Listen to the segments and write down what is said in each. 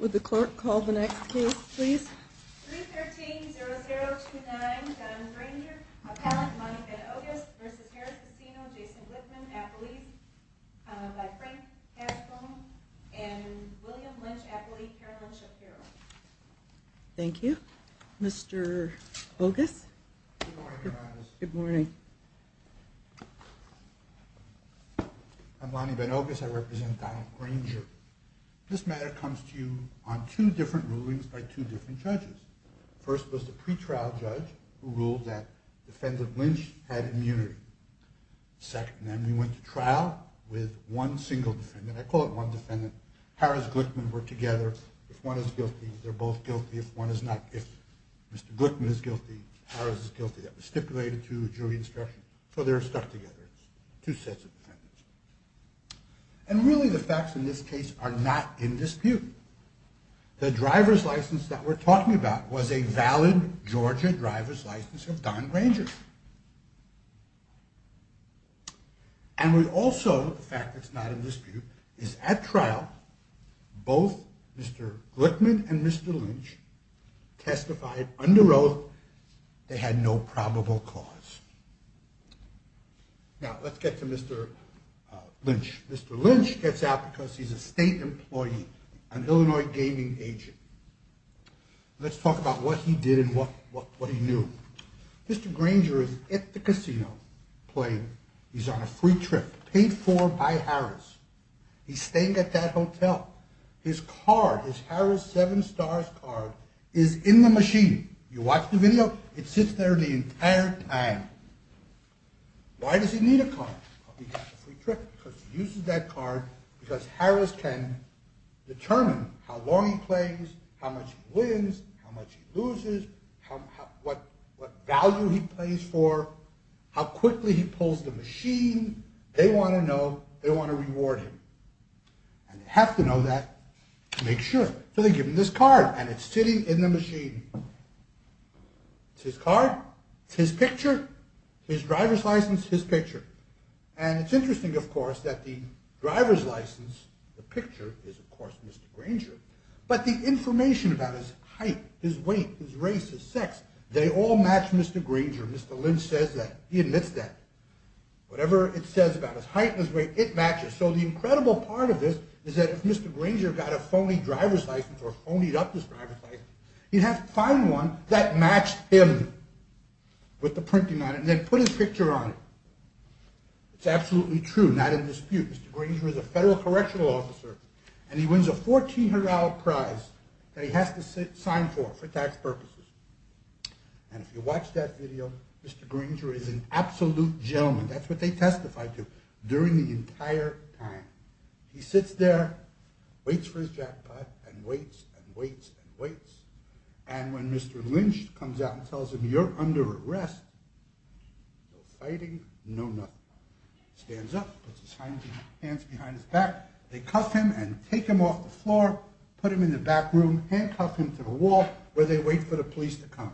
313-0029 Don Granger, appellant Lonnie Van Ogus v. Harrah's Casino, Jason Whitman, appellee by Frank Haskell, and William Lynch, appellee, Carolyn Shapiro Thank you. Mr. Ogus? Good morning, Your Honor. Good morning. I'm Lonnie Van Ogus. I represent Donald Granger. This matter comes to you on two different rulings by two different judges. First was the pretrial judge who ruled that defendant Lynch had immunity. Second, then we went to trial with one single defendant. I call it one defendant. Harrah's and Glickman were together. If one is guilty, they're both guilty. If one is not, if Mr. Glickman is guilty, Harrah's is guilty. That was stipulated to jury instruction. So they're stuck together. Two sets of defendants. And really the facts in this case are not in dispute. The driver's license that we're talking about was a valid Georgia driver's license of Don Granger. And we also, the fact that it's not in dispute, is at trial, both Mr. Glickman and Mr. Lynch testified under oath they had no probable cause. Now, let's get to Mr. Lynch. Mr. Lynch gets out because he's a state employee, an Illinois gaming agent. Let's talk about what he did and what he knew. Mr. Granger is at the casino playing. He's on a free trip paid for by Harrah's. He's staying at that hotel. His card, his Harrah's seven stars card, is in the machine. You watch the video, it sits there the entire time. Why does he need a card? Because he uses that card because Harrah's can determine how long he plays, how much he wins, how much he loses, what value he plays for, how quickly he pulls the machine. They want to know, they want to reward him. And they have to know that to make sure. So they give him this card and it's sitting in the machine. It's his card, it's his picture, his driver's license, his picture. And it's interesting, of course, that the driver's license, the picture, is of course Mr. Granger. But the information about his height, his weight, his race, his sex, they all match Mr. Granger. Mr. Lynch says that, he admits that. Whatever it says about his height and his weight, it matches. So the incredible part of this is that if Mr. Granger got a phony driver's license or phonied up his driver's license, he'd have to find one that matched him with the printing on it and then put his picture on it. It's absolutely true, not in dispute. Mr. Granger is a federal correctional officer and he wins a $1,400 prize that he has to sign for, for tax purposes. And if you watch that video, Mr. Granger is an absolute gentleman. That's what they testified to during the entire time. He sits there, waits for his jackpot, and waits, and waits, and waits. And when Mr. Lynch comes out and tells him, you're under arrest, no fighting, no nothing. Stands up, puts his hands behind his back, they cuff him and take him off the floor, put him in the back room, handcuff him to the wall where they wait for the police to come.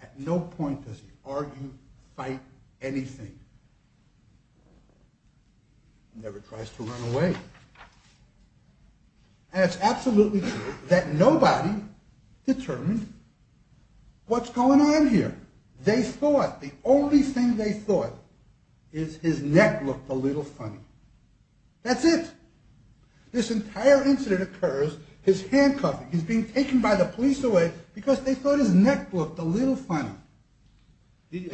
At no point does he argue, fight, anything. Never tries to run away. And it's absolutely true that nobody determined what's going on here. They thought, the only thing they thought, is his neck looked a little funny. That's it. This entire incident occurs, he's handcuffed, he's being taken by the police away, because they thought his neck looked a little funny. It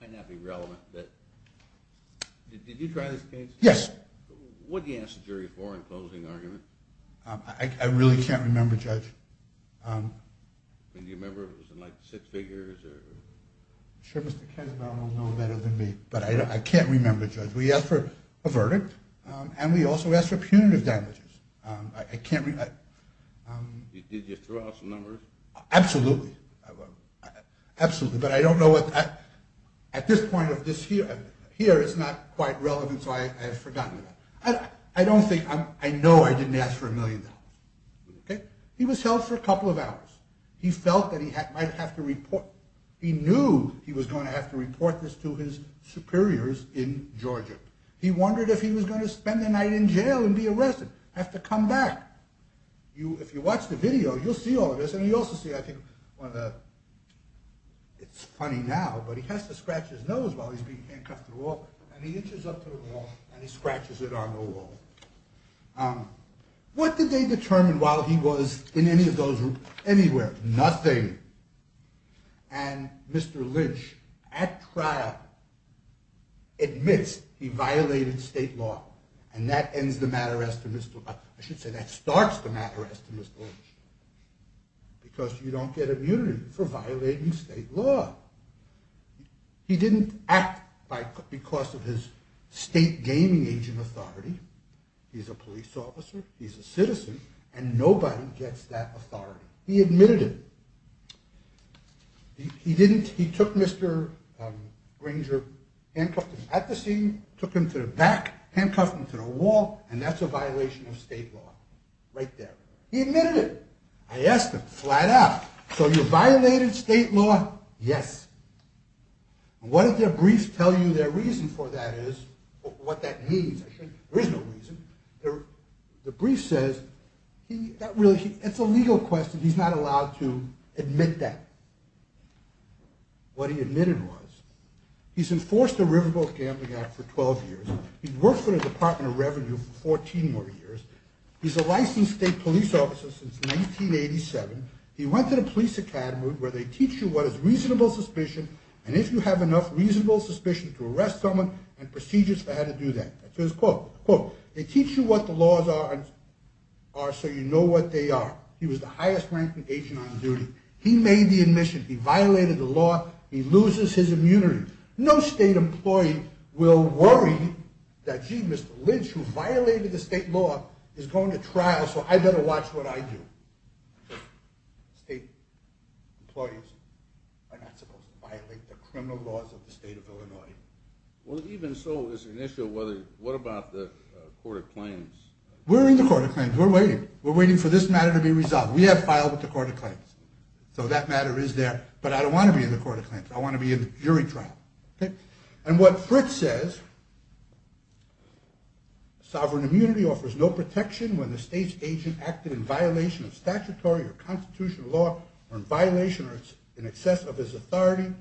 might not be relevant, but did you try this case? Yes. What did you ask the jury for in closing argument? I really can't remember, Judge. Do you remember if it was in like six figures? I'm sure Mr. Kessler will know better than me, but I can't remember, Judge. We asked for a verdict, and we also asked for punitive damages. I can't remember. Did you throw out some numbers? Absolutely. Absolutely, but I don't know what, at this point of this hearing, here it's not quite relevant, so I have forgotten about it. I don't think, I know I didn't ask for a million dollars. He was held for a couple of hours. He felt that he might have to report, he knew he was going to have to report this to his superiors in Georgia. He wondered if he was going to spend the night in jail and be arrested, have to come back. If you watch the video, you'll see all of this, and you'll also see, I think, one of the, it's funny now, but he has to scratch his nose while he's being handcuffed to the wall, and he inches up to the wall, and he scratches it on the wall. What did they determine while he was in any of those rooms, anywhere? Nothing. And Mr. Lynch, at trial, admits he violated state law, and that ends the matter as to Mr., I should say that starts the matter as to Mr. Lynch, because you don't get immunity for violating state law. He didn't act because of his state gaming agent authority. He's a police officer, he's a citizen, and nobody gets that authority. He admitted it. He didn't, he took Mr. Granger, handcuffed him at the scene, took him to the back, handcuffed him to the wall, and that's a violation of state law. Right there. He admitted it. I asked him, flat out. So you violated state law? Yes. What did their briefs tell you their reason for that is, what that means, there is no reason. The brief says, that's a legal question, he's not allowed to admit that. What he admitted was, he's enforced a riverboat gambling act for 12 years, he's worked for the Department of Revenue for 14 more years, he's a licensed state police officer since 1987, he went to the police academy where they teach you what is reasonable suspicion, and if you have enough reasonable suspicion to arrest someone, and procedures for how to do that. That's his quote. They teach you what the laws are, so you know what they are. He was the highest ranking agent on duty. He made the admission, he violated the law, he loses his immunity. No state employee will worry that, gee, Mr. Lynch, who violated the state law, is going to trial, so I better watch what I do. State employees are not supposed to violate the criminal laws of the state of Illinois. Well even so, it's an issue whether, what about the court of claims? We're in the court of claims, we're waiting. We're waiting for this matter to be resolved. We have filed with the court of claims. So that matter is there, but I don't want to be in the court of claims, I want to be in the jury trial. And what Fritz says, Sovereign immunity offers no protection when the state's agent acted in violation of statutory or constitutional law, or in violation or in excess of his authority.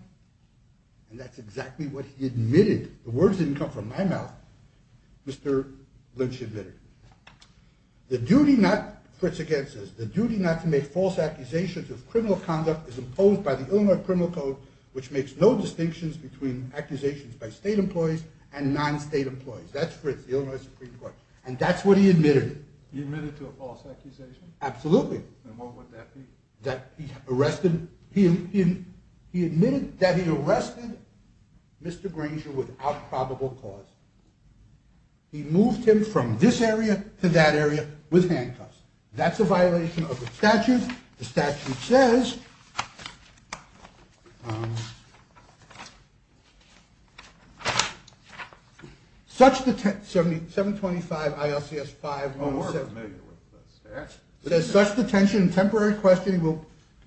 And that's exactly what he admitted. The words didn't come from my mouth. Mr. Lynch admitted. The duty not, Fritz again says, the duty not to make false accusations of criminal conduct is imposed by the Illinois Criminal Code, which makes no distinctions between accusations by state employees and non-state employees. That's Fritz, the Illinois Supreme Court. And that's what he admitted. He admitted to a false accusation? Absolutely. And what would that be? That he arrested, he admitted that he arrested Mr. Granger without probable cause. He moved him from this area to that area with handcuffs. That's a violation of the statute. And the statute says, 725 ILCS 5-1-7- Oh, we're familiar with the statute. It says, such detention and temporary questioning will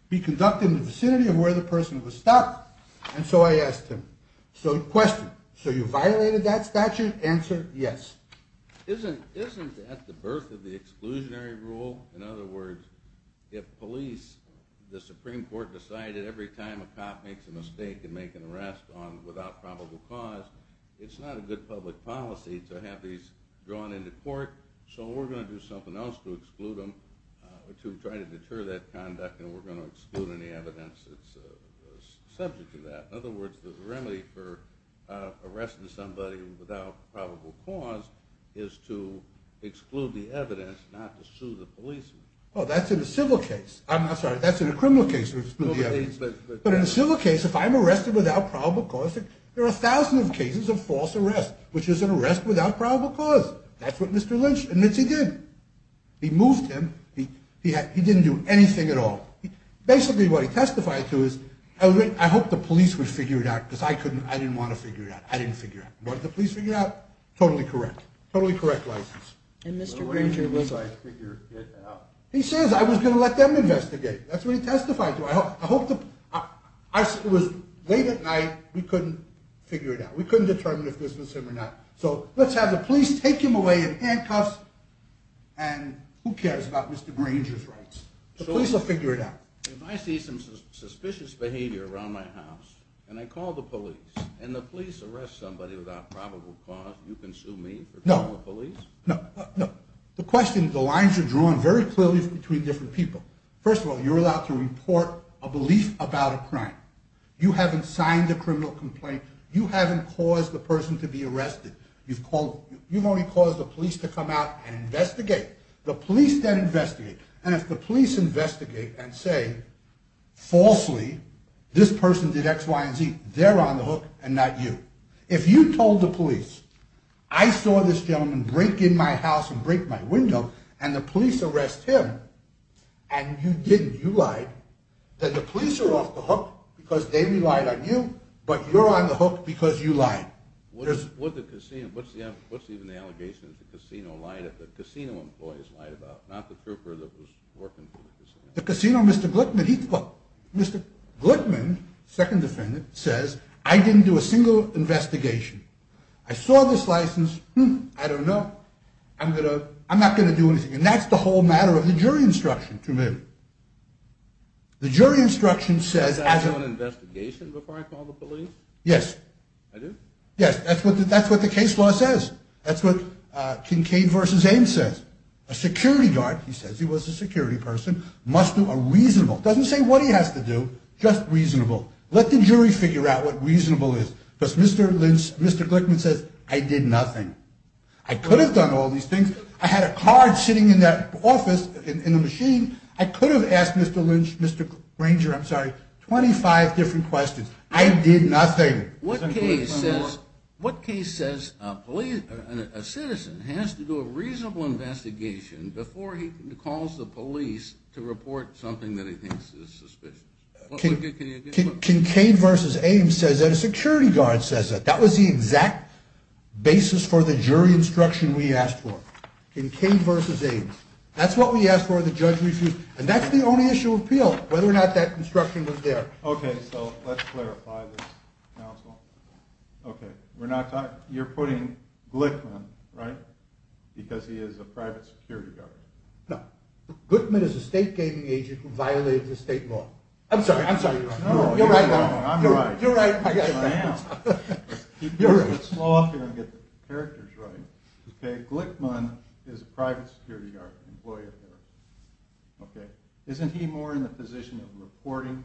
be conducted in the vicinity of where the person was stopped. And so I asked him, so question, so you violated that statute? Answer, yes. Isn't that the birth of the exclusionary rule? In other words, if police, the Supreme Court decided every time a cop makes a mistake and make an arrest without probable cause, it's not a good public policy to have these drawn into court. So we're going to do something else to exclude them, to try to deter that conduct, and we're going to exclude any evidence that's subject to that. In other words, the remedy for arresting somebody without probable cause is to exclude the evidence, not to sue the police. Oh, that's in a civil case. I'm sorry, that's in a criminal case, to exclude the evidence. But in a civil case, if I'm arrested without probable cause, there are thousands of cases of false arrest, which is an arrest without probable cause. That's what Mr. Lynch admits he did. He moved him. He didn't do anything at all. Basically, what he testified to is, I hope the police would figure it out, because I didn't want to figure it out. I didn't figure it out. What did the police figure out? Totally correct. Totally correct license. He says, I was going to let them investigate. That's what he testified to. It was late at night. We couldn't figure it out. We couldn't determine if this was him or not. So let's have the police take him away in handcuffs, and who cares about Mr. Granger's rights? The police will figure it out. If I see some suspicious behavior around my house, and I call the police, and the police arrest somebody without probable cause, you can sue me for criminal police? No. No. The question, the lines are drawn very clearly between different people. First of all, you're allowed to report a belief about a crime. You haven't signed a criminal complaint. You haven't caused the person to be arrested. You've only caused the police to come out and investigate. The police then investigate. And if the police investigate and say, falsely, this person did X, Y, and Z, they're on the hook and not you. If you told the police, I saw this gentleman break in my house and break my window, and the police arrest him, and you didn't, you lied, then the police are off the hook because they relied on you, but you're on the hook because you lied. What's even the allegation that the casino employees lied about, not the trooper that was working for the casino? The casino, Mr. Glickman, he, Mr. Glickman, second defendant, says I didn't do a single investigation. I saw this license. Hmm, I don't know. I'm going to, I'm not going to do anything. And that's the whole matter of the jury instruction to me. The jury instruction says. Is that an investigation before I call the police? Yes. I do? Yes, that's what the case law says. That's what Kincaid v. Ames says. A security guard, he says he was a security person, must do a reasonable, doesn't say what he has to do, just reasonable. Let the jury figure out what reasonable is. Because Mr. Lynch, Mr. Glickman says I did nothing. I could have done all these things. I had a card sitting in that office in the machine. I could have asked Mr. Lynch, Mr. Granger, I'm sorry, 25 different questions. I did nothing. What case says, what case says a citizen has to do a reasonable investigation before he calls the police to report something that he thinks is suspicious? Kincaid v. Ames says that. A security guard says that. That was the exact basis for the jury instruction we asked for. Kincaid v. Ames. That's what we asked for. The judge refused. And that's the only issue of appeal, whether or not that instruction was there. Okay, so let's clarify this, counsel. Okay, we're not talking, you're putting Glickman, right, because he is a private security guard. No. Glickman is a state gaming agent who violated the state law. I'm sorry, I'm sorry. No, you're right. No, I'm right. You're right. I am. Slow off here and get the characters right. Okay, Glickman is a private security guard, an employer here. Okay, isn't he more in the position of reporting,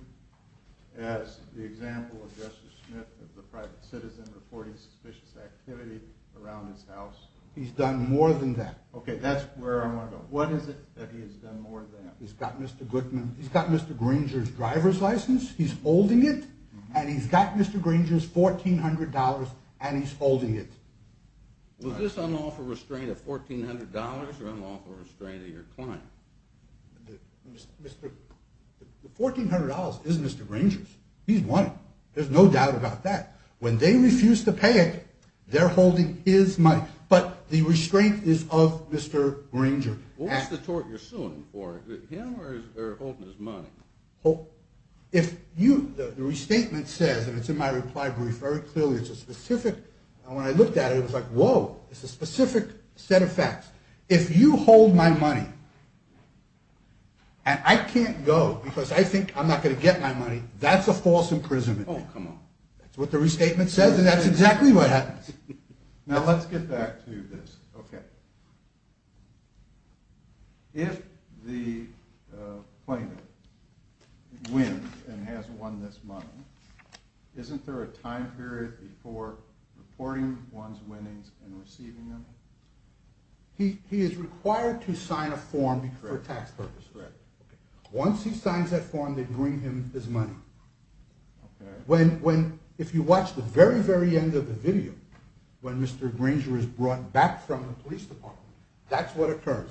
as the example of Justice Smith of the private citizen reporting suspicious activity around his house? He's done more than that. Okay, that's where I want to go. What is it that he has done more than? He's got Mr. Glickman, he's got Mr. Granger's driver's license, he's holding it, and he's got Mr. Granger's $1,400, and he's holding it. Was this unlawful restraint of $1,400 or unlawful restraint of your client? The $1,400 is Mr. Granger's. He's won it. There's no doubt about that. When they refuse to pay it, they're holding his money. But the restraint is of Mr. Granger. What's the tort you're suing for? Him or they're holding his money? The restatement says, and it's in my reply brief very clearly, and when I looked at it, it was like, whoa, it's a specific set of facts. If you hold my money and I can't go because I think I'm not going to get my money, that's a false imprisonment. Oh, come on. That's what the restatement says, and that's exactly what happens. Now let's get back to this. If the plaintiff wins and has won this money, isn't there a time period before reporting one's winnings and receiving them? He is required to sign a form for tax purposes. Once he signs that form, they bring him his money. If you watch the very, very end of the video, when Mr. Granger is brought back from the police department, that's what occurs.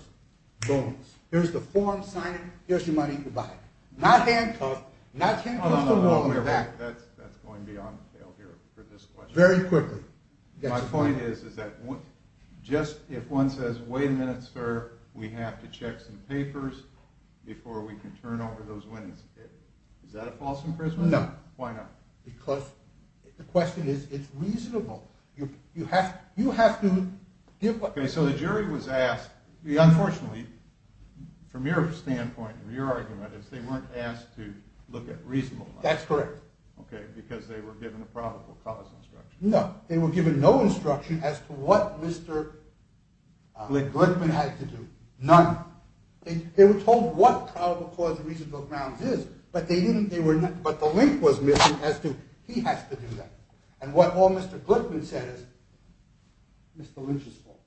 Here's the form, sign it, here's your money, goodbye. Not handcuffed, not handcuffed or rolling back. That's going beyond the tail here for this question. Very quickly. My point is, is that just if one says, wait a minute, sir, we have to check some papers before we can turn over those winnings, is that a false imprisonment? No. Why not? Because the question is, it's reasonable. You have to give what… Okay, so the jury was asked, unfortunately, from your standpoint, from your argument, is they weren't asked to look at reasonable grounds. That's correct. Okay, because they were given a probable cause instruction. No, they were given no instruction as to what Mr. Glickman had to do. None. They were told what probable cause reasonable grounds is, but the link was missing as to he has to do that. And what all Mr. Glickman said is Mr. Lynch's fault.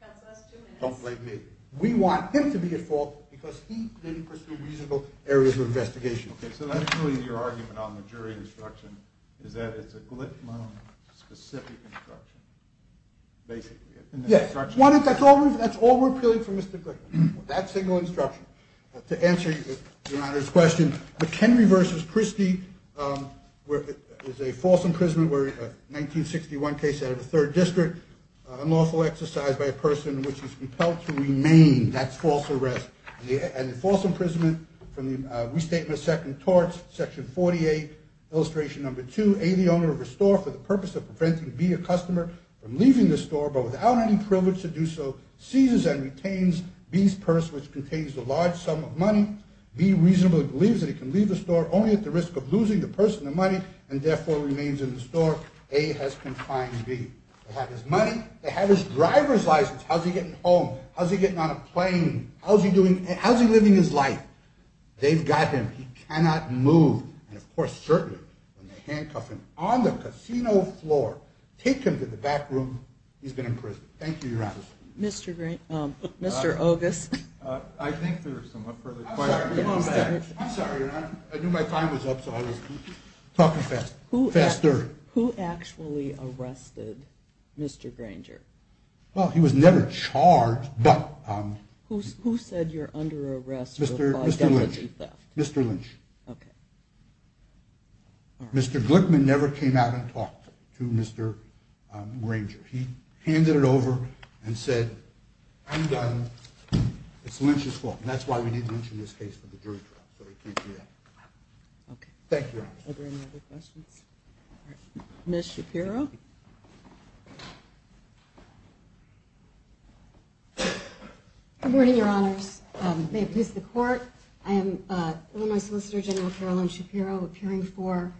That's us doing it. Don't blame me. We want him to be at fault because he didn't pursue reasonable areas of investigation. Okay, so that's really your argument on the jury instruction, is that it's a Glickman-specific instruction, basically. Yes. That's all we're appealing for Mr. Glickman, that single instruction. To answer Your Honor's question, McKinley v. Christie is a false imprisonment, a 1961 case out of the Third District, unlawful exercise by a person which is compelled to remain. That's false arrest. And the false imprisonment from the Restatement of Second Torts, Section 48, Illustration No. 2, A, the owner of a store for the purpose of preventing B, a customer, from leaving the store, but without any privilege to do so, seizes and retains B's purse, which contains a large sum of money. B reasonably believes that he can leave the store only at the risk of losing the purse and the money, and therefore remains in the store. Therefore, A has confined B. They have his money. They have his driver's license. How's he getting home? How's he getting on a plane? How's he living his life? They've got him. He cannot move. And, of course, certainly, when they handcuff him on the casino floor, take him to the back room, he's been imprisoned. Thank you, Your Honor. Mr. Ogis. I think there's some further questions. I'm sorry, Your Honor. I knew my time was up, so I was talking faster. Who actually arrested Mr. Granger? Well, he was never charged, but... Who said you're under arrest for fidelity theft? Mr. Lynch. Mr. Lynch. Okay. Mr. Glickman never came out and talked to Mr. Granger. He handed it over and said, I'm done. It's Lynch's fault, and that's why we need Lynch in this case for the jury trial, so he can't do that. Thank you, Your Honor. Are there any other questions? Ms. Shapiro. Good morning, Your Honors. May it please the Court, I am Illinois Solicitor General Carolyn Shapiro, appearing for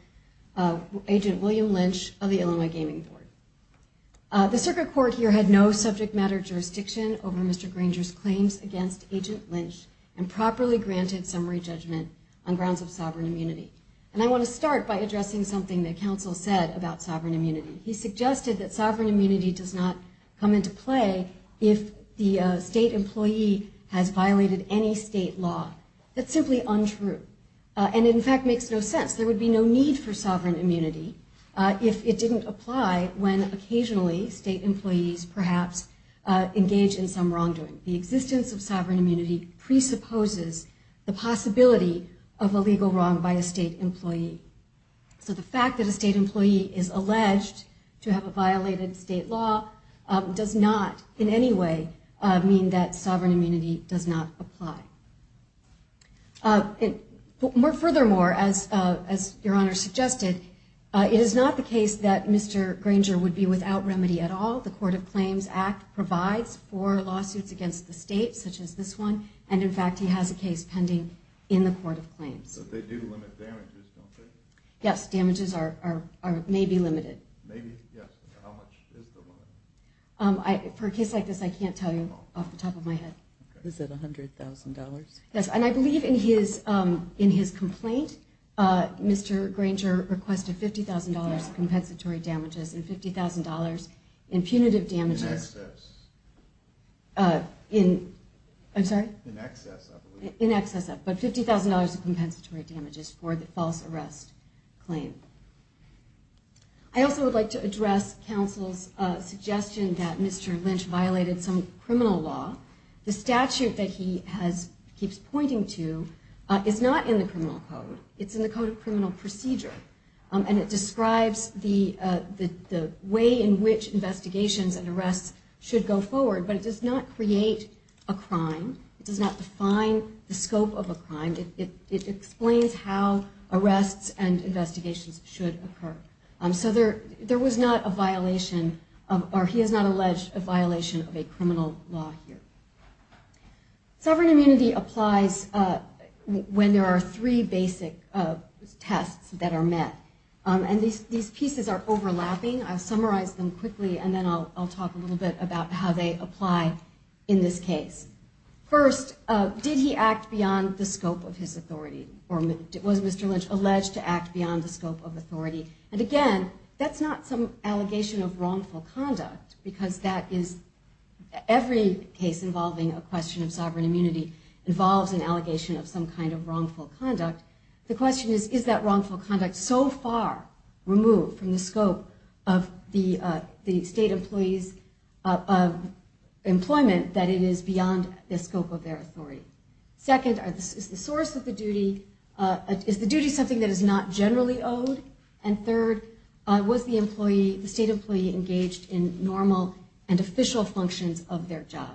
Agent William Lynch of the Illinois Gaming Board. The circuit court here had no subject matter jurisdiction over Mr. Granger's claims against Agent Lynch and properly granted summary judgment on grounds of sovereign immunity. And I want to start by addressing something that counsel said about sovereign immunity. He suggested that sovereign immunity does not come into play if the state employee has violated any state law. That's simply untrue. And, in fact, makes no sense. There would be no need for sovereign immunity if it didn't apply when, occasionally, state employees perhaps engage in some wrongdoing. The existence of sovereign immunity presupposes the possibility of a legal wrong by a state employee. So the fact that a state employee is alleged to have violated state law does not, in any way, mean that sovereign immunity does not apply. Furthermore, as Your Honor suggested, it is not the case that Mr. Granger would be without remedy at all. The Court of Claims Act provides for lawsuits against the state, such as this one, and, in fact, he has a case pending in the Court of Claims. But they do limit damages, don't they? Yes, damages are maybe limited. Maybe, yes, but how much is the limit? For a case like this, I can't tell you off the top of my head. Is it $100,000? Yes, and I believe in his complaint, Mr. Granger requested $50,000 in compensatory damages and $50,000 in punitive damages. In excess. I'm sorry? In excess, I believe. In excess, but $50,000 in compensatory damages for the false arrest claim. I also would like to address counsel's suggestion that Mr. Lynch violated some criminal law. The statute that he keeps pointing to is not in the criminal code. It's in the Code of Criminal Procedure, and it describes the way in which investigations and arrests should go forward, but it does not create a crime. It does not define the scope of a crime. It explains how arrests and investigations should occur. So there was not a violation, or he has not alleged a violation of a criminal law here. Sovereign immunity applies when there are three basic tests that are met, and these pieces are overlapping. I'll summarize them quickly, and then I'll talk a little bit about how they apply in this case. First, did he act beyond the scope of his authority, or was Mr. Lynch alleged to act beyond the scope of authority? And again, that's not some allegation of wrongful conduct, because every case involving a question of sovereign immunity involves an allegation of some kind of wrongful conduct. The question is, is that wrongful conduct so far removed from the scope of the state employees' employment that it is beyond the scope of their authority? Second, is the duty something that is not generally owed? And third, was the state employee engaged in normal and official functions of their job?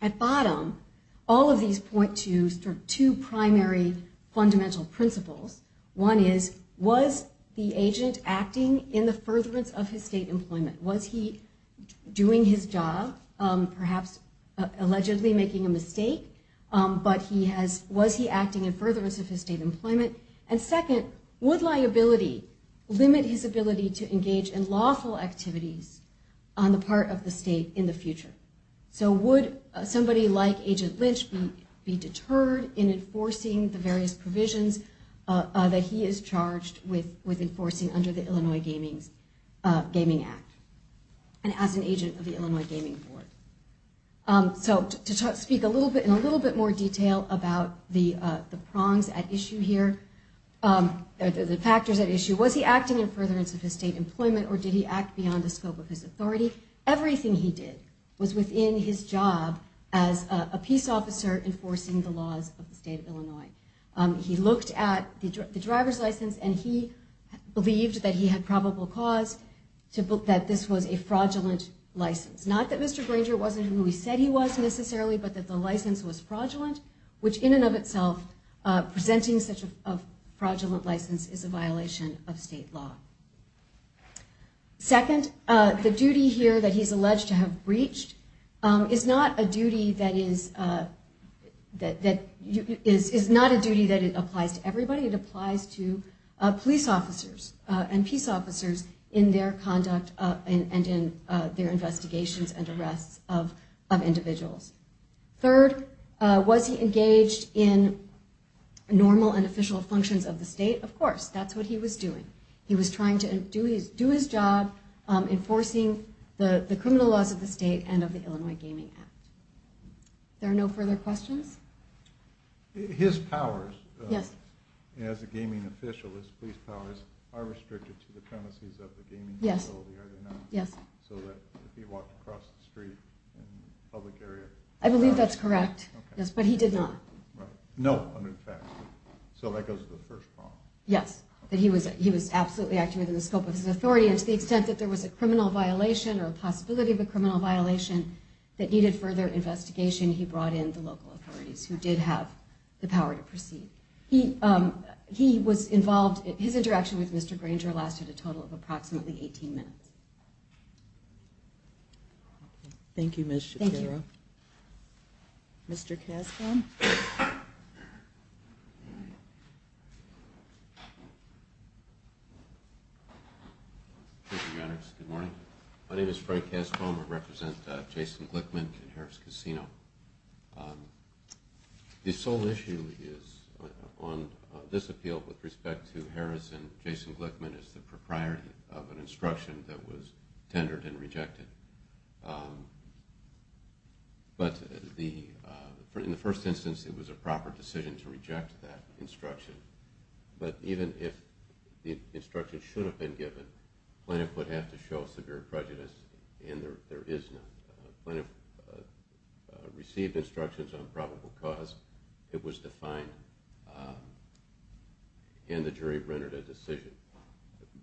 At bottom, all of these point to two primary fundamental principles. One is, was the agent acting in the furtherance of his state employment? Was he doing his job, perhaps allegedly making a mistake, but was he acting in furtherance of his state employment? And second, would liability limit his ability to engage in lawful activities on the part of the state in the future? So would somebody like Agent Lynch be deterred in enforcing the various provisions that he is charged with enforcing under the Illinois Gaming Act, and as an agent of the Illinois Gaming Board? So to speak in a little bit more detail about the prongs at issue here, the factors at issue, was he acting in furtherance of his state employment, or did he act beyond the scope of his authority? Everything he did was within his job as a peace officer enforcing the laws of the state of Illinois. He looked at the driver's license, and he believed that he had probable cause that this was a fraudulent license. Not that Mr. Granger wasn't who he said he was, necessarily, but that the license was fraudulent, which in and of itself, presenting such a fraudulent license is a violation of state law. Second, the duty here that he's alleged to have breached is not a duty that applies to everybody. It applies to police officers and peace officers in their conduct and in their investigations and arrests of individuals. Third, was he engaged in normal and official functions of the state? Of course. That's what he was doing. He was trying to do his job enforcing the criminal laws of the state and of the Illinois Gaming Act. There are no further questions? His powers as a gaming official, his police powers, are restricted to the premises of the gaming facility, are they not? Yes. So that if he walked across the street in a public area... I believe that's correct, yes, but he did not. No, under the facts. So that goes to the first problem. Yes, that he was absolutely acting within the scope of his authority, and to the extent that there was a criminal violation or a possibility of a criminal violation that needed further investigation, he brought in the local authorities who did have the power to proceed. His interaction with Mr. Granger lasted a total of approximately 18 minutes. Thank you, Ms. Shapiro. Thank you. Mr. Cascom? Thank you, Maddox. Good morning. My name is Frank Cascom. I represent Jason Glickman and Harris Casino. The sole issue on this appeal with respect to Harris and Jason Glickman is the propriety of an instruction that was tendered and rejected. In this instance, it was a proper decision to reject that instruction. But even if the instruction should have been given, Plaintiff would have to show severe prejudice, and there is none. Plaintiff received instructions on probable cause, it was defined, and the jury rendered a decision.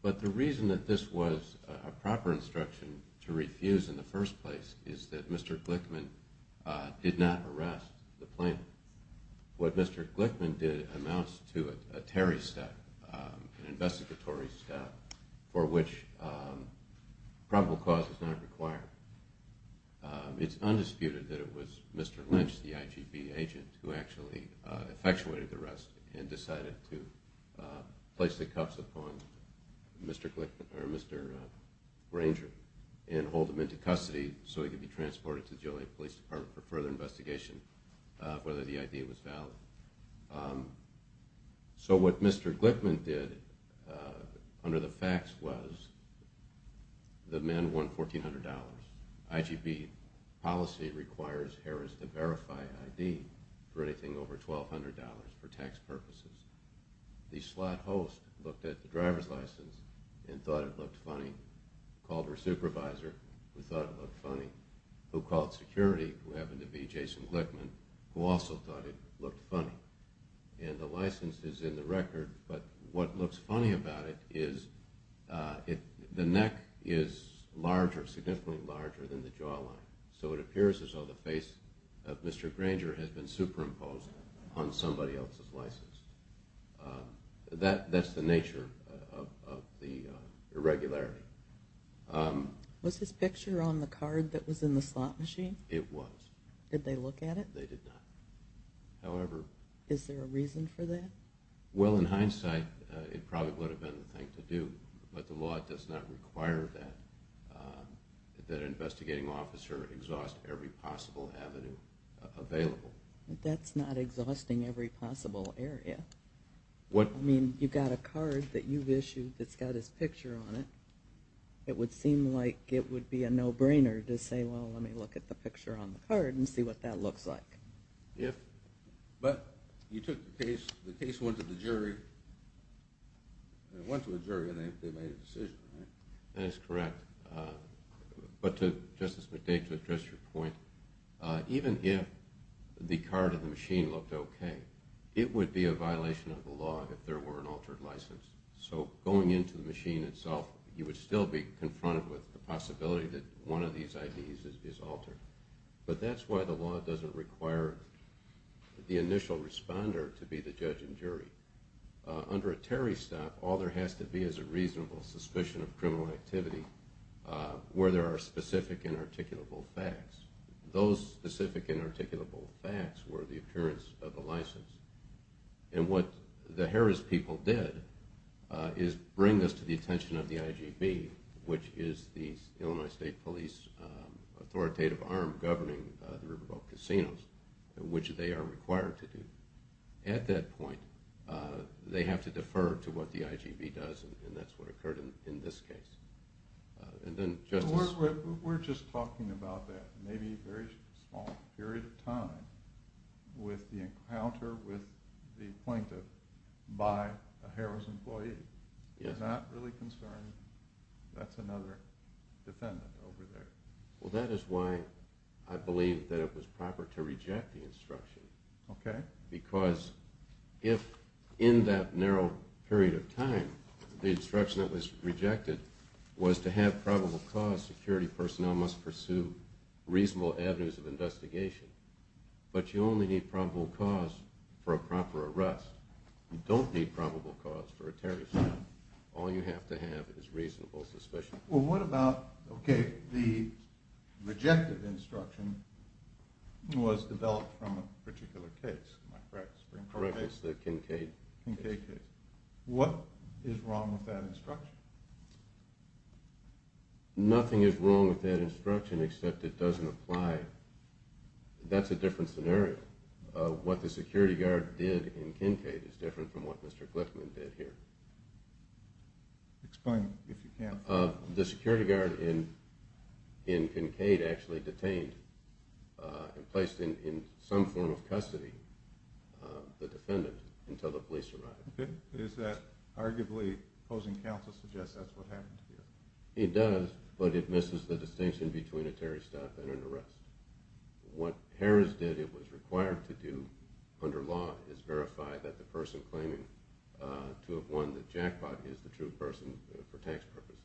But the reason that this was a proper instruction to refuse in the first place is that Mr. Glickman did not arrest the plaintiff. What Mr. Glickman did amounts to a Terry step, an investigatory step, for which probable cause is not required. It's undisputed that it was Mr. Lynch, the IGB agent, who actually effectuated the arrest and decided to place the cuffs upon Mr. Granger and hold him into custody so he could be transported to the Joliet Police Department for further investigation, whether the idea was valid. So what Mr. Glickman did under the facts was the men won $1,400. IGB policy requires Harris to verify ID for anything over $1,200 for tax purposes. The slot host looked at the driver's license and thought it looked funny, called her supervisor who thought it looked funny, who called security, who happened to be Jason Glickman, who also thought it looked funny. And the license is in the record, but what looks funny about it is the neck is significantly larger than the jawline, so it appears as though the face of Mr. Granger has been superimposed on somebody else's license. That's the nature of the irregularity. Was his picture on the card that was in the slot machine? It was. Did they look at it? They did not. Is there a reason for that? Well, in hindsight, it probably would have been the thing to do, but the law does not require that an investigating officer exhaust every possible avenue available. That's not exhausting every possible area. I mean, you've got a card that you've issued that's got his picture on it. It would seem like it would be a no-brainer to say, well, let me look at the picture on the card and see what that looks like. Yes. But you took the case, the case went to the jury, and they made a decision, right? That is correct. But, Justice McDade, to address your point, even if the card in the machine looked okay, it would be a violation of the law if there were an altered license. So going into the machine itself, you would still be confronted with the possibility that one of these IDs is altered. But that's why the law doesn't require the initial responder to be the judge and jury. Under a Terry stop, all there has to be is a reasonable suspicion of criminal activity where there are specific and articulable facts. Those specific and articulable facts were the appearance of the license. And what the Harris people did is bring this to the attention of the IGB, which is the Illinois State Police authoritative arm governing the Riverboat Casinos, which they are required to do. At that point, they have to defer to what the IGB does, and that's what occurred in this case. We're just talking about that. Maybe a very small period of time with the encounter with the plaintiff by a Harris employee. I'm not really concerned. That's another defendant over there. Well, that is why I believe that it was proper to reject the instruction. Because if in that narrow period of time the instruction that was rejected was to have probable cause, security personnel must pursue reasonable avenues of investigation. But you only need probable cause for a proper arrest. You don't need probable cause for a Terry stop. All you have to have is reasonable suspicion. Well, what about the rejected instruction was developed from a particular case? Correct. It's the Kincaid case. What is wrong with that instruction? Nothing is wrong with that instruction except it doesn't apply. That's a different scenario. What the security guard did in Kincaid is different from what Mr. Glickman did here. Explain if you can. The security guard in Kincaid actually detained and placed in some form of custody the defendant until the police arrived. Is that arguably opposing counsel suggests that's what happened to you? It does, but it misses the distinction between a Terry stop and an arrest. What Harris did it was required to do under law is verify that the person claiming to have won the jackpot is the true person for tax purposes.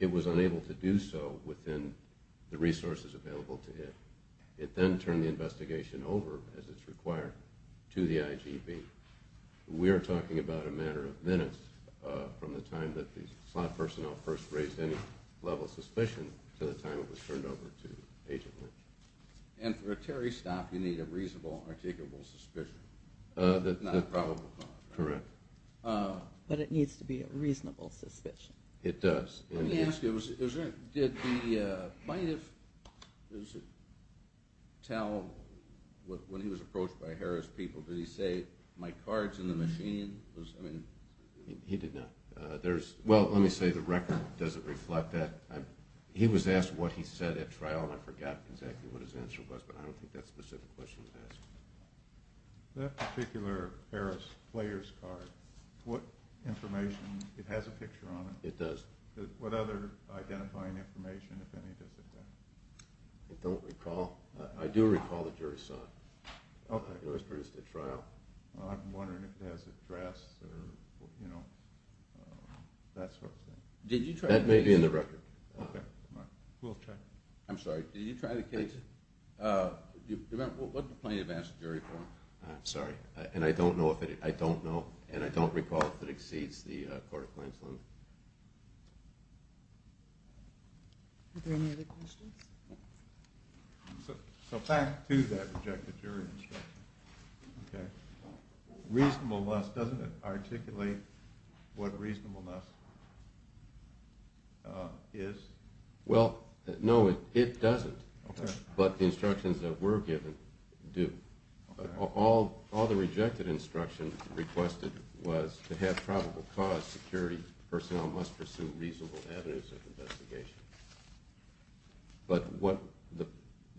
It was unable to do so within the resources available to it. It then turned the investigation over, as it's required, to the IGB. We are talking about a matter of minutes from the time that the slot personnel first raised any level of suspicion to the time it was turned over to Agent Lynch. And for a Terry stop, you need a reasonable, articulable suspicion, not a probable cause. Correct. But it needs to be a reasonable suspicion. It does. Let me ask you, did the plaintiff tell when he was approached by Harris people, did he say, my card's in the machine? He did not. Well, let me say the record doesn't reflect that. He was asked what he said at trial, and I forgot exactly what his answer was, but I don't think that's a specific question to ask. That particular Harris player's card, what information, it has a picture on it? It does. What other identifying information, if any, does it have? I don't recall. I do recall the jury saw it. Okay. It was produced at trial. I'm wondering if it has a dress or, you know, that sort of thing. That may be in the record. Okay. We'll check. I'm sorry, did you try the case? What did the plaintiff ask the jury for? I'm sorry, and I don't know, and I don't recall if it exceeds the court of claims limit. Are there any other questions? So back to that rejected jury instruction, okay, reasonableness, doesn't it articulate what reasonableness is? Well, no, it doesn't. Okay. But the instructions that were given do. All the rejected instruction requested was to have probable cause, security personnel must pursue reasonable avenues of investigation. But what the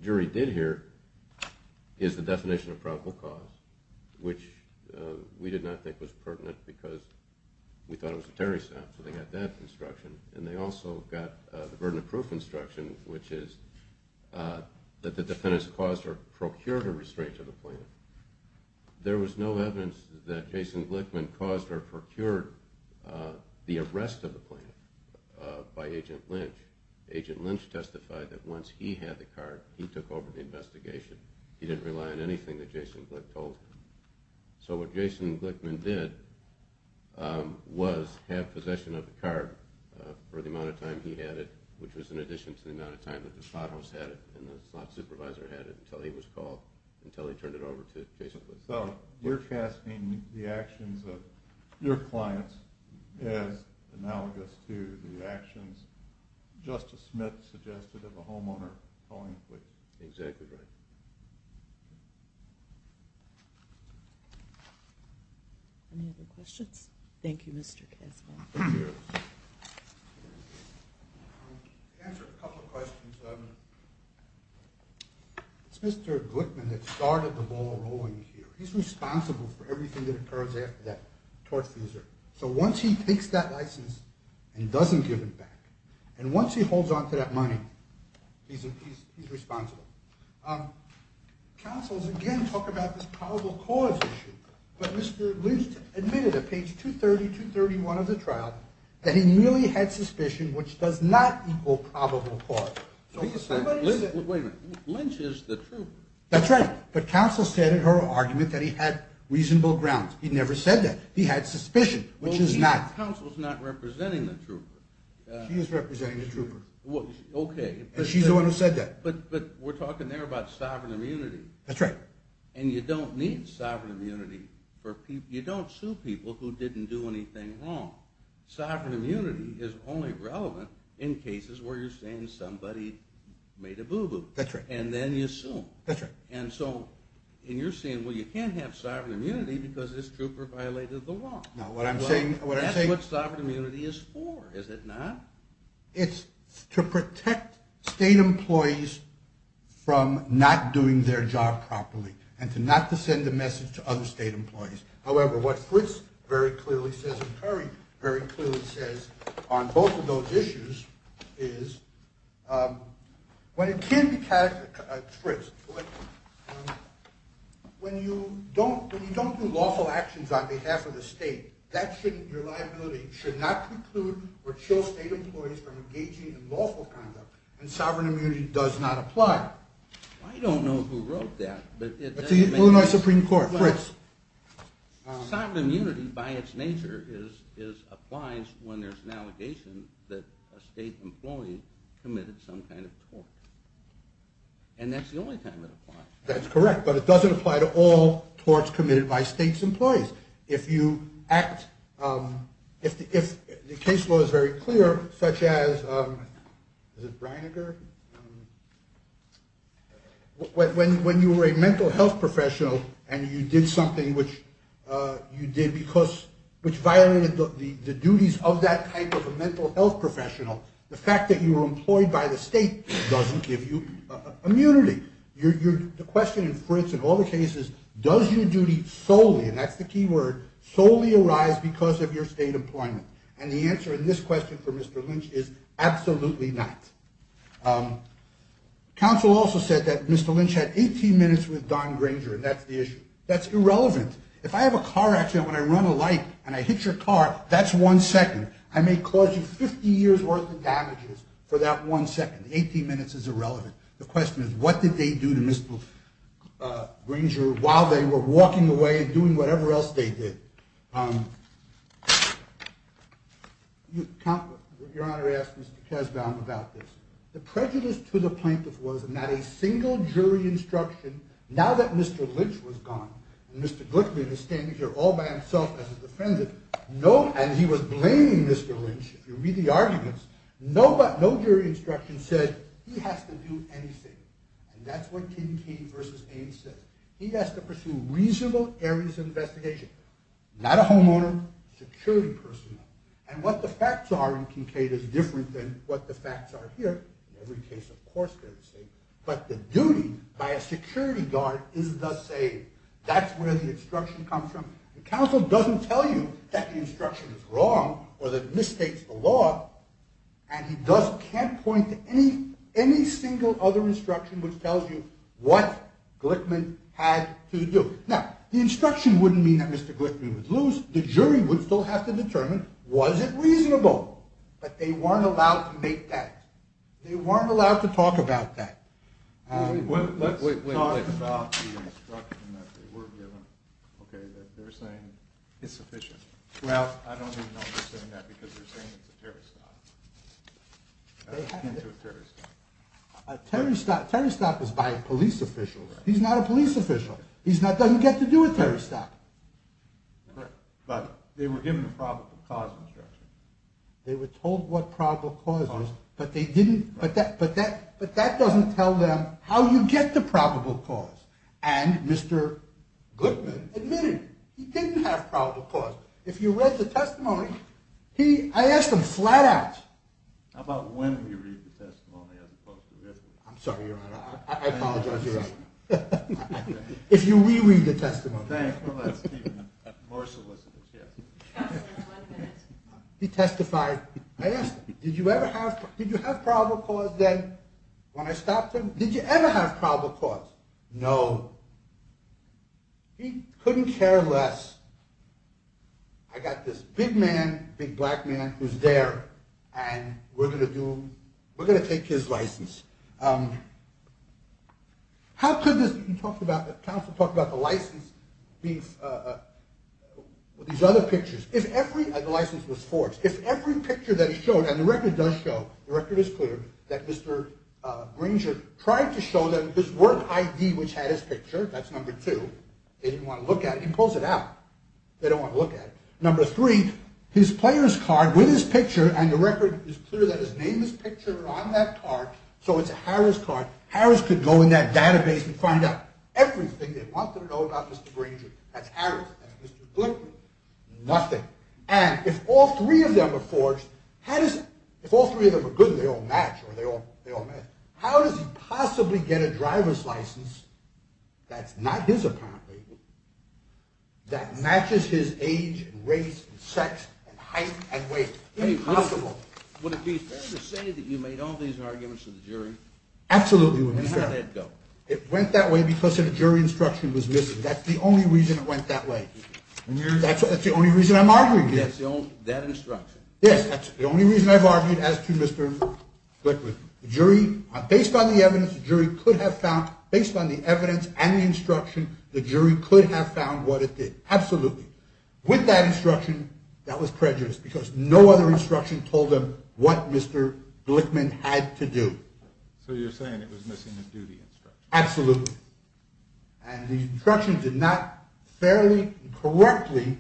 jury did here is the definition of probable cause, which we did not think was pertinent because we thought it was a terrorist act, and they also got the burden of proof instruction, which is that the defendants caused or procured a restraint to the plaintiff. There was no evidence that Jason Glickman caused or procured the arrest of the plaintiff by Agent Lynch. Agent Lynch testified that once he had the card, he took over the investigation. He didn't rely on anything that Jason Glickman told him. So what Jason Glickman did was have possession of the card for the amount of time he had it, which was in addition to the amount of time that the thought host had it and the thought supervisor had it until he was called, until he turned it over to Jason Glickman. So you're casting the actions of your clients as analogous to the actions Justice Smith suggested of a homeowner calling the police. Exactly right. Any other questions? Thank you, Mr. Kasman. Thank you. To answer a couple of questions, it's Mr. Glickman that started the ball rolling here. He's responsible for everything that occurs after that tortfeasor. So once he takes that license and doesn't give it back, and once he holds on to that money, he's responsible. Counsels, again, talk about this probable cause issue. But Mr. Lynch admitted at page 230, 231 of the trial that he merely had suspicion, which does not equal probable cause. Wait a minute. Lynch is the trooper. That's right. But counsel said in her argument that he had reasonable grounds. He never said that. He had suspicion, which is not. Counsel's not representing the trooper. She is representing the trooper. Okay. She's the one who said that. But we're talking there about sovereign immunity. That's right. And you don't need sovereign immunity for people. You don't sue people who didn't do anything wrong. Sovereign immunity is only relevant in cases where you're saying somebody made a boo-boo. That's right. And then you sue them. That's right. And so you're saying, well, you can't have sovereign immunity because this trooper violated the law. No, what I'm saying is that's what sovereign immunity is for, is it not? It's to protect state employees from not doing their job properly and to not to send a message to other state employees. However, what Fritz very clearly says and Curry very clearly says on both of those issues is when it can't be – Fritz, when you don't do lawful actions on behalf of the state, your liability should not preclude or chill state employees from engaging in lawful conduct, and sovereign immunity does not apply. I don't know who wrote that. It's the Illinois Supreme Court, Fritz. Sovereign immunity by its nature applies when there's an allegation that a state employee committed some kind of tort. And that's the only time it applies. That's correct. But it doesn't apply to all torts committed by state's employees. If you act – if the case law is very clear, such as – is it Reiniger? When you were a mental health professional and you did something which you did because – which violated the duties of that type of a mental health professional, the fact that you were employed by the state doesn't give you immunity. The question in Fritz and all the cases, does your duty solely – and that's the key word – solely arise because of your state employment? And the answer in this question for Mr. Lynch is absolutely not. Counsel also said that Mr. Lynch had 18 minutes with Don Granger, and that's the issue. That's irrelevant. If I have a car accident, when I run a light and I hit your car, that's one second. I may cause you 50 years' worth of damages for that one second. Eighteen minutes is irrelevant. The question is, what did they do to Mr. Granger while they were walking away and doing whatever else they did? Your Honor asked Mr. Kasbaum about this. The prejudice to the plaintiff was that not a single jury instruction, now that Mr. Lynch was gone and Mr. Glickman is standing here all by himself as a defendant, and he was blaming Mr. Lynch, if you read the arguments, no jury instruction said he has to do anything. And that's what Kincaid v. Ames says. He has to pursue reasonable areas of investigation, not a homeowner, security personnel. And what the facts are in Kincaid is different than what the facts are here. In every case, of course, they're the same. But the duty by a security guard is the same. That's where the instruction comes from. The counsel doesn't tell you that the instruction is wrong or that it misstates the law. And he can't point to any single other instruction which tells you what Glickman had to do. Now, the instruction wouldn't mean that Mr. Glickman would lose. The jury would still have to determine, was it reasonable? But they weren't allowed to make that. They weren't allowed to talk about that. Let's talk about the instruction that they were given, okay, that they're saying it's sufficient. Well, I don't even know if they're saying that because they're saying it's a terri-stop. How does Kincaid do a terri-stop? A terri-stop is by a police official. He's not a police official. He doesn't get to do a terri-stop. Correct. But they were given a probable cause instruction. They were told what probable cause was. But that doesn't tell them how you get the probable cause. And Mr. Glickman admitted he didn't have probable cause. If you read the testimony, I asked him flat out. How about when we read the testimony as opposed to this? I'm sorry, Your Honor. I apologize, Your Honor. If you re-read the testimony. Thanks. He testified. I asked him, did you have probable cause then when I stopped him? Did you ever have probable cause? No. He couldn't care less. I got this big man, big black man, who's there, and we're going to do, we're going to take his license. How could this, you talked about, the counsel talked about the license being, these other pictures. The license was forged. If every picture that he showed, and the record does show, the record is clear, that Mr. Granger tried to show them his work ID, which had his picture. That's number two. They didn't want to look at it. He pulls it out. They don't want to look at it. Number three, his player's card with his picture, and the record is clear that his name is pictured on that card, so it's a Harris card. Harris could go in that database and find out everything they want to know about Mr. Granger. That's Harris. That's Mr. Glickman. Nothing. And if all three of them are forged, how does, if all three of them are good and they all match, or they all match, how does he possibly get a driver's license that's not his, apparently, that matches his age and race and sex and height and weight? Impossible. Would it be fair to say that you made all these arguments to the jury? Absolutely would be fair. And how did it go? It went that way because a jury instruction was missing. That's the only reason it went that way. That's the only reason I'm arguing. That instruction. Yes, that's the only reason I've argued as to Mr. Glickman. The jury, based on the evidence, the jury could have found, based on the evidence and the instruction, the jury could have found what it did. Absolutely. With that instruction, that was prejudiced because no other instruction told them what Mr. Glickman had to do. So you're saying it was missing a duty instruction. Absolutely. And the instruction did not fairly and correctly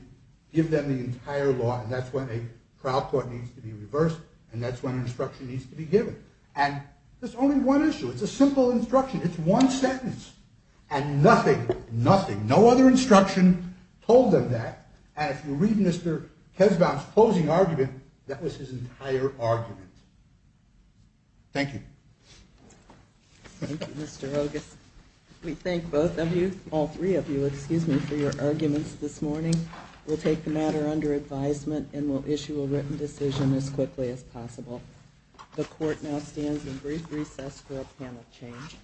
give them the entire law, and that's when a trial court needs to be reversed, and that's when instruction needs to be given. And there's only one issue. It's a simple instruction. It's one sentence. And nothing, nothing, no other instruction told them that. And if you read Mr. Kesbaum's closing argument, that was his entire argument. Thank you. Thank you, Mr. Ogis. We thank both of you, all three of you, excuse me, for your arguments this morning. We'll take the matter under advisement and we'll issue a written decision as quickly as possible. The court now stands in brief recess for a panel change.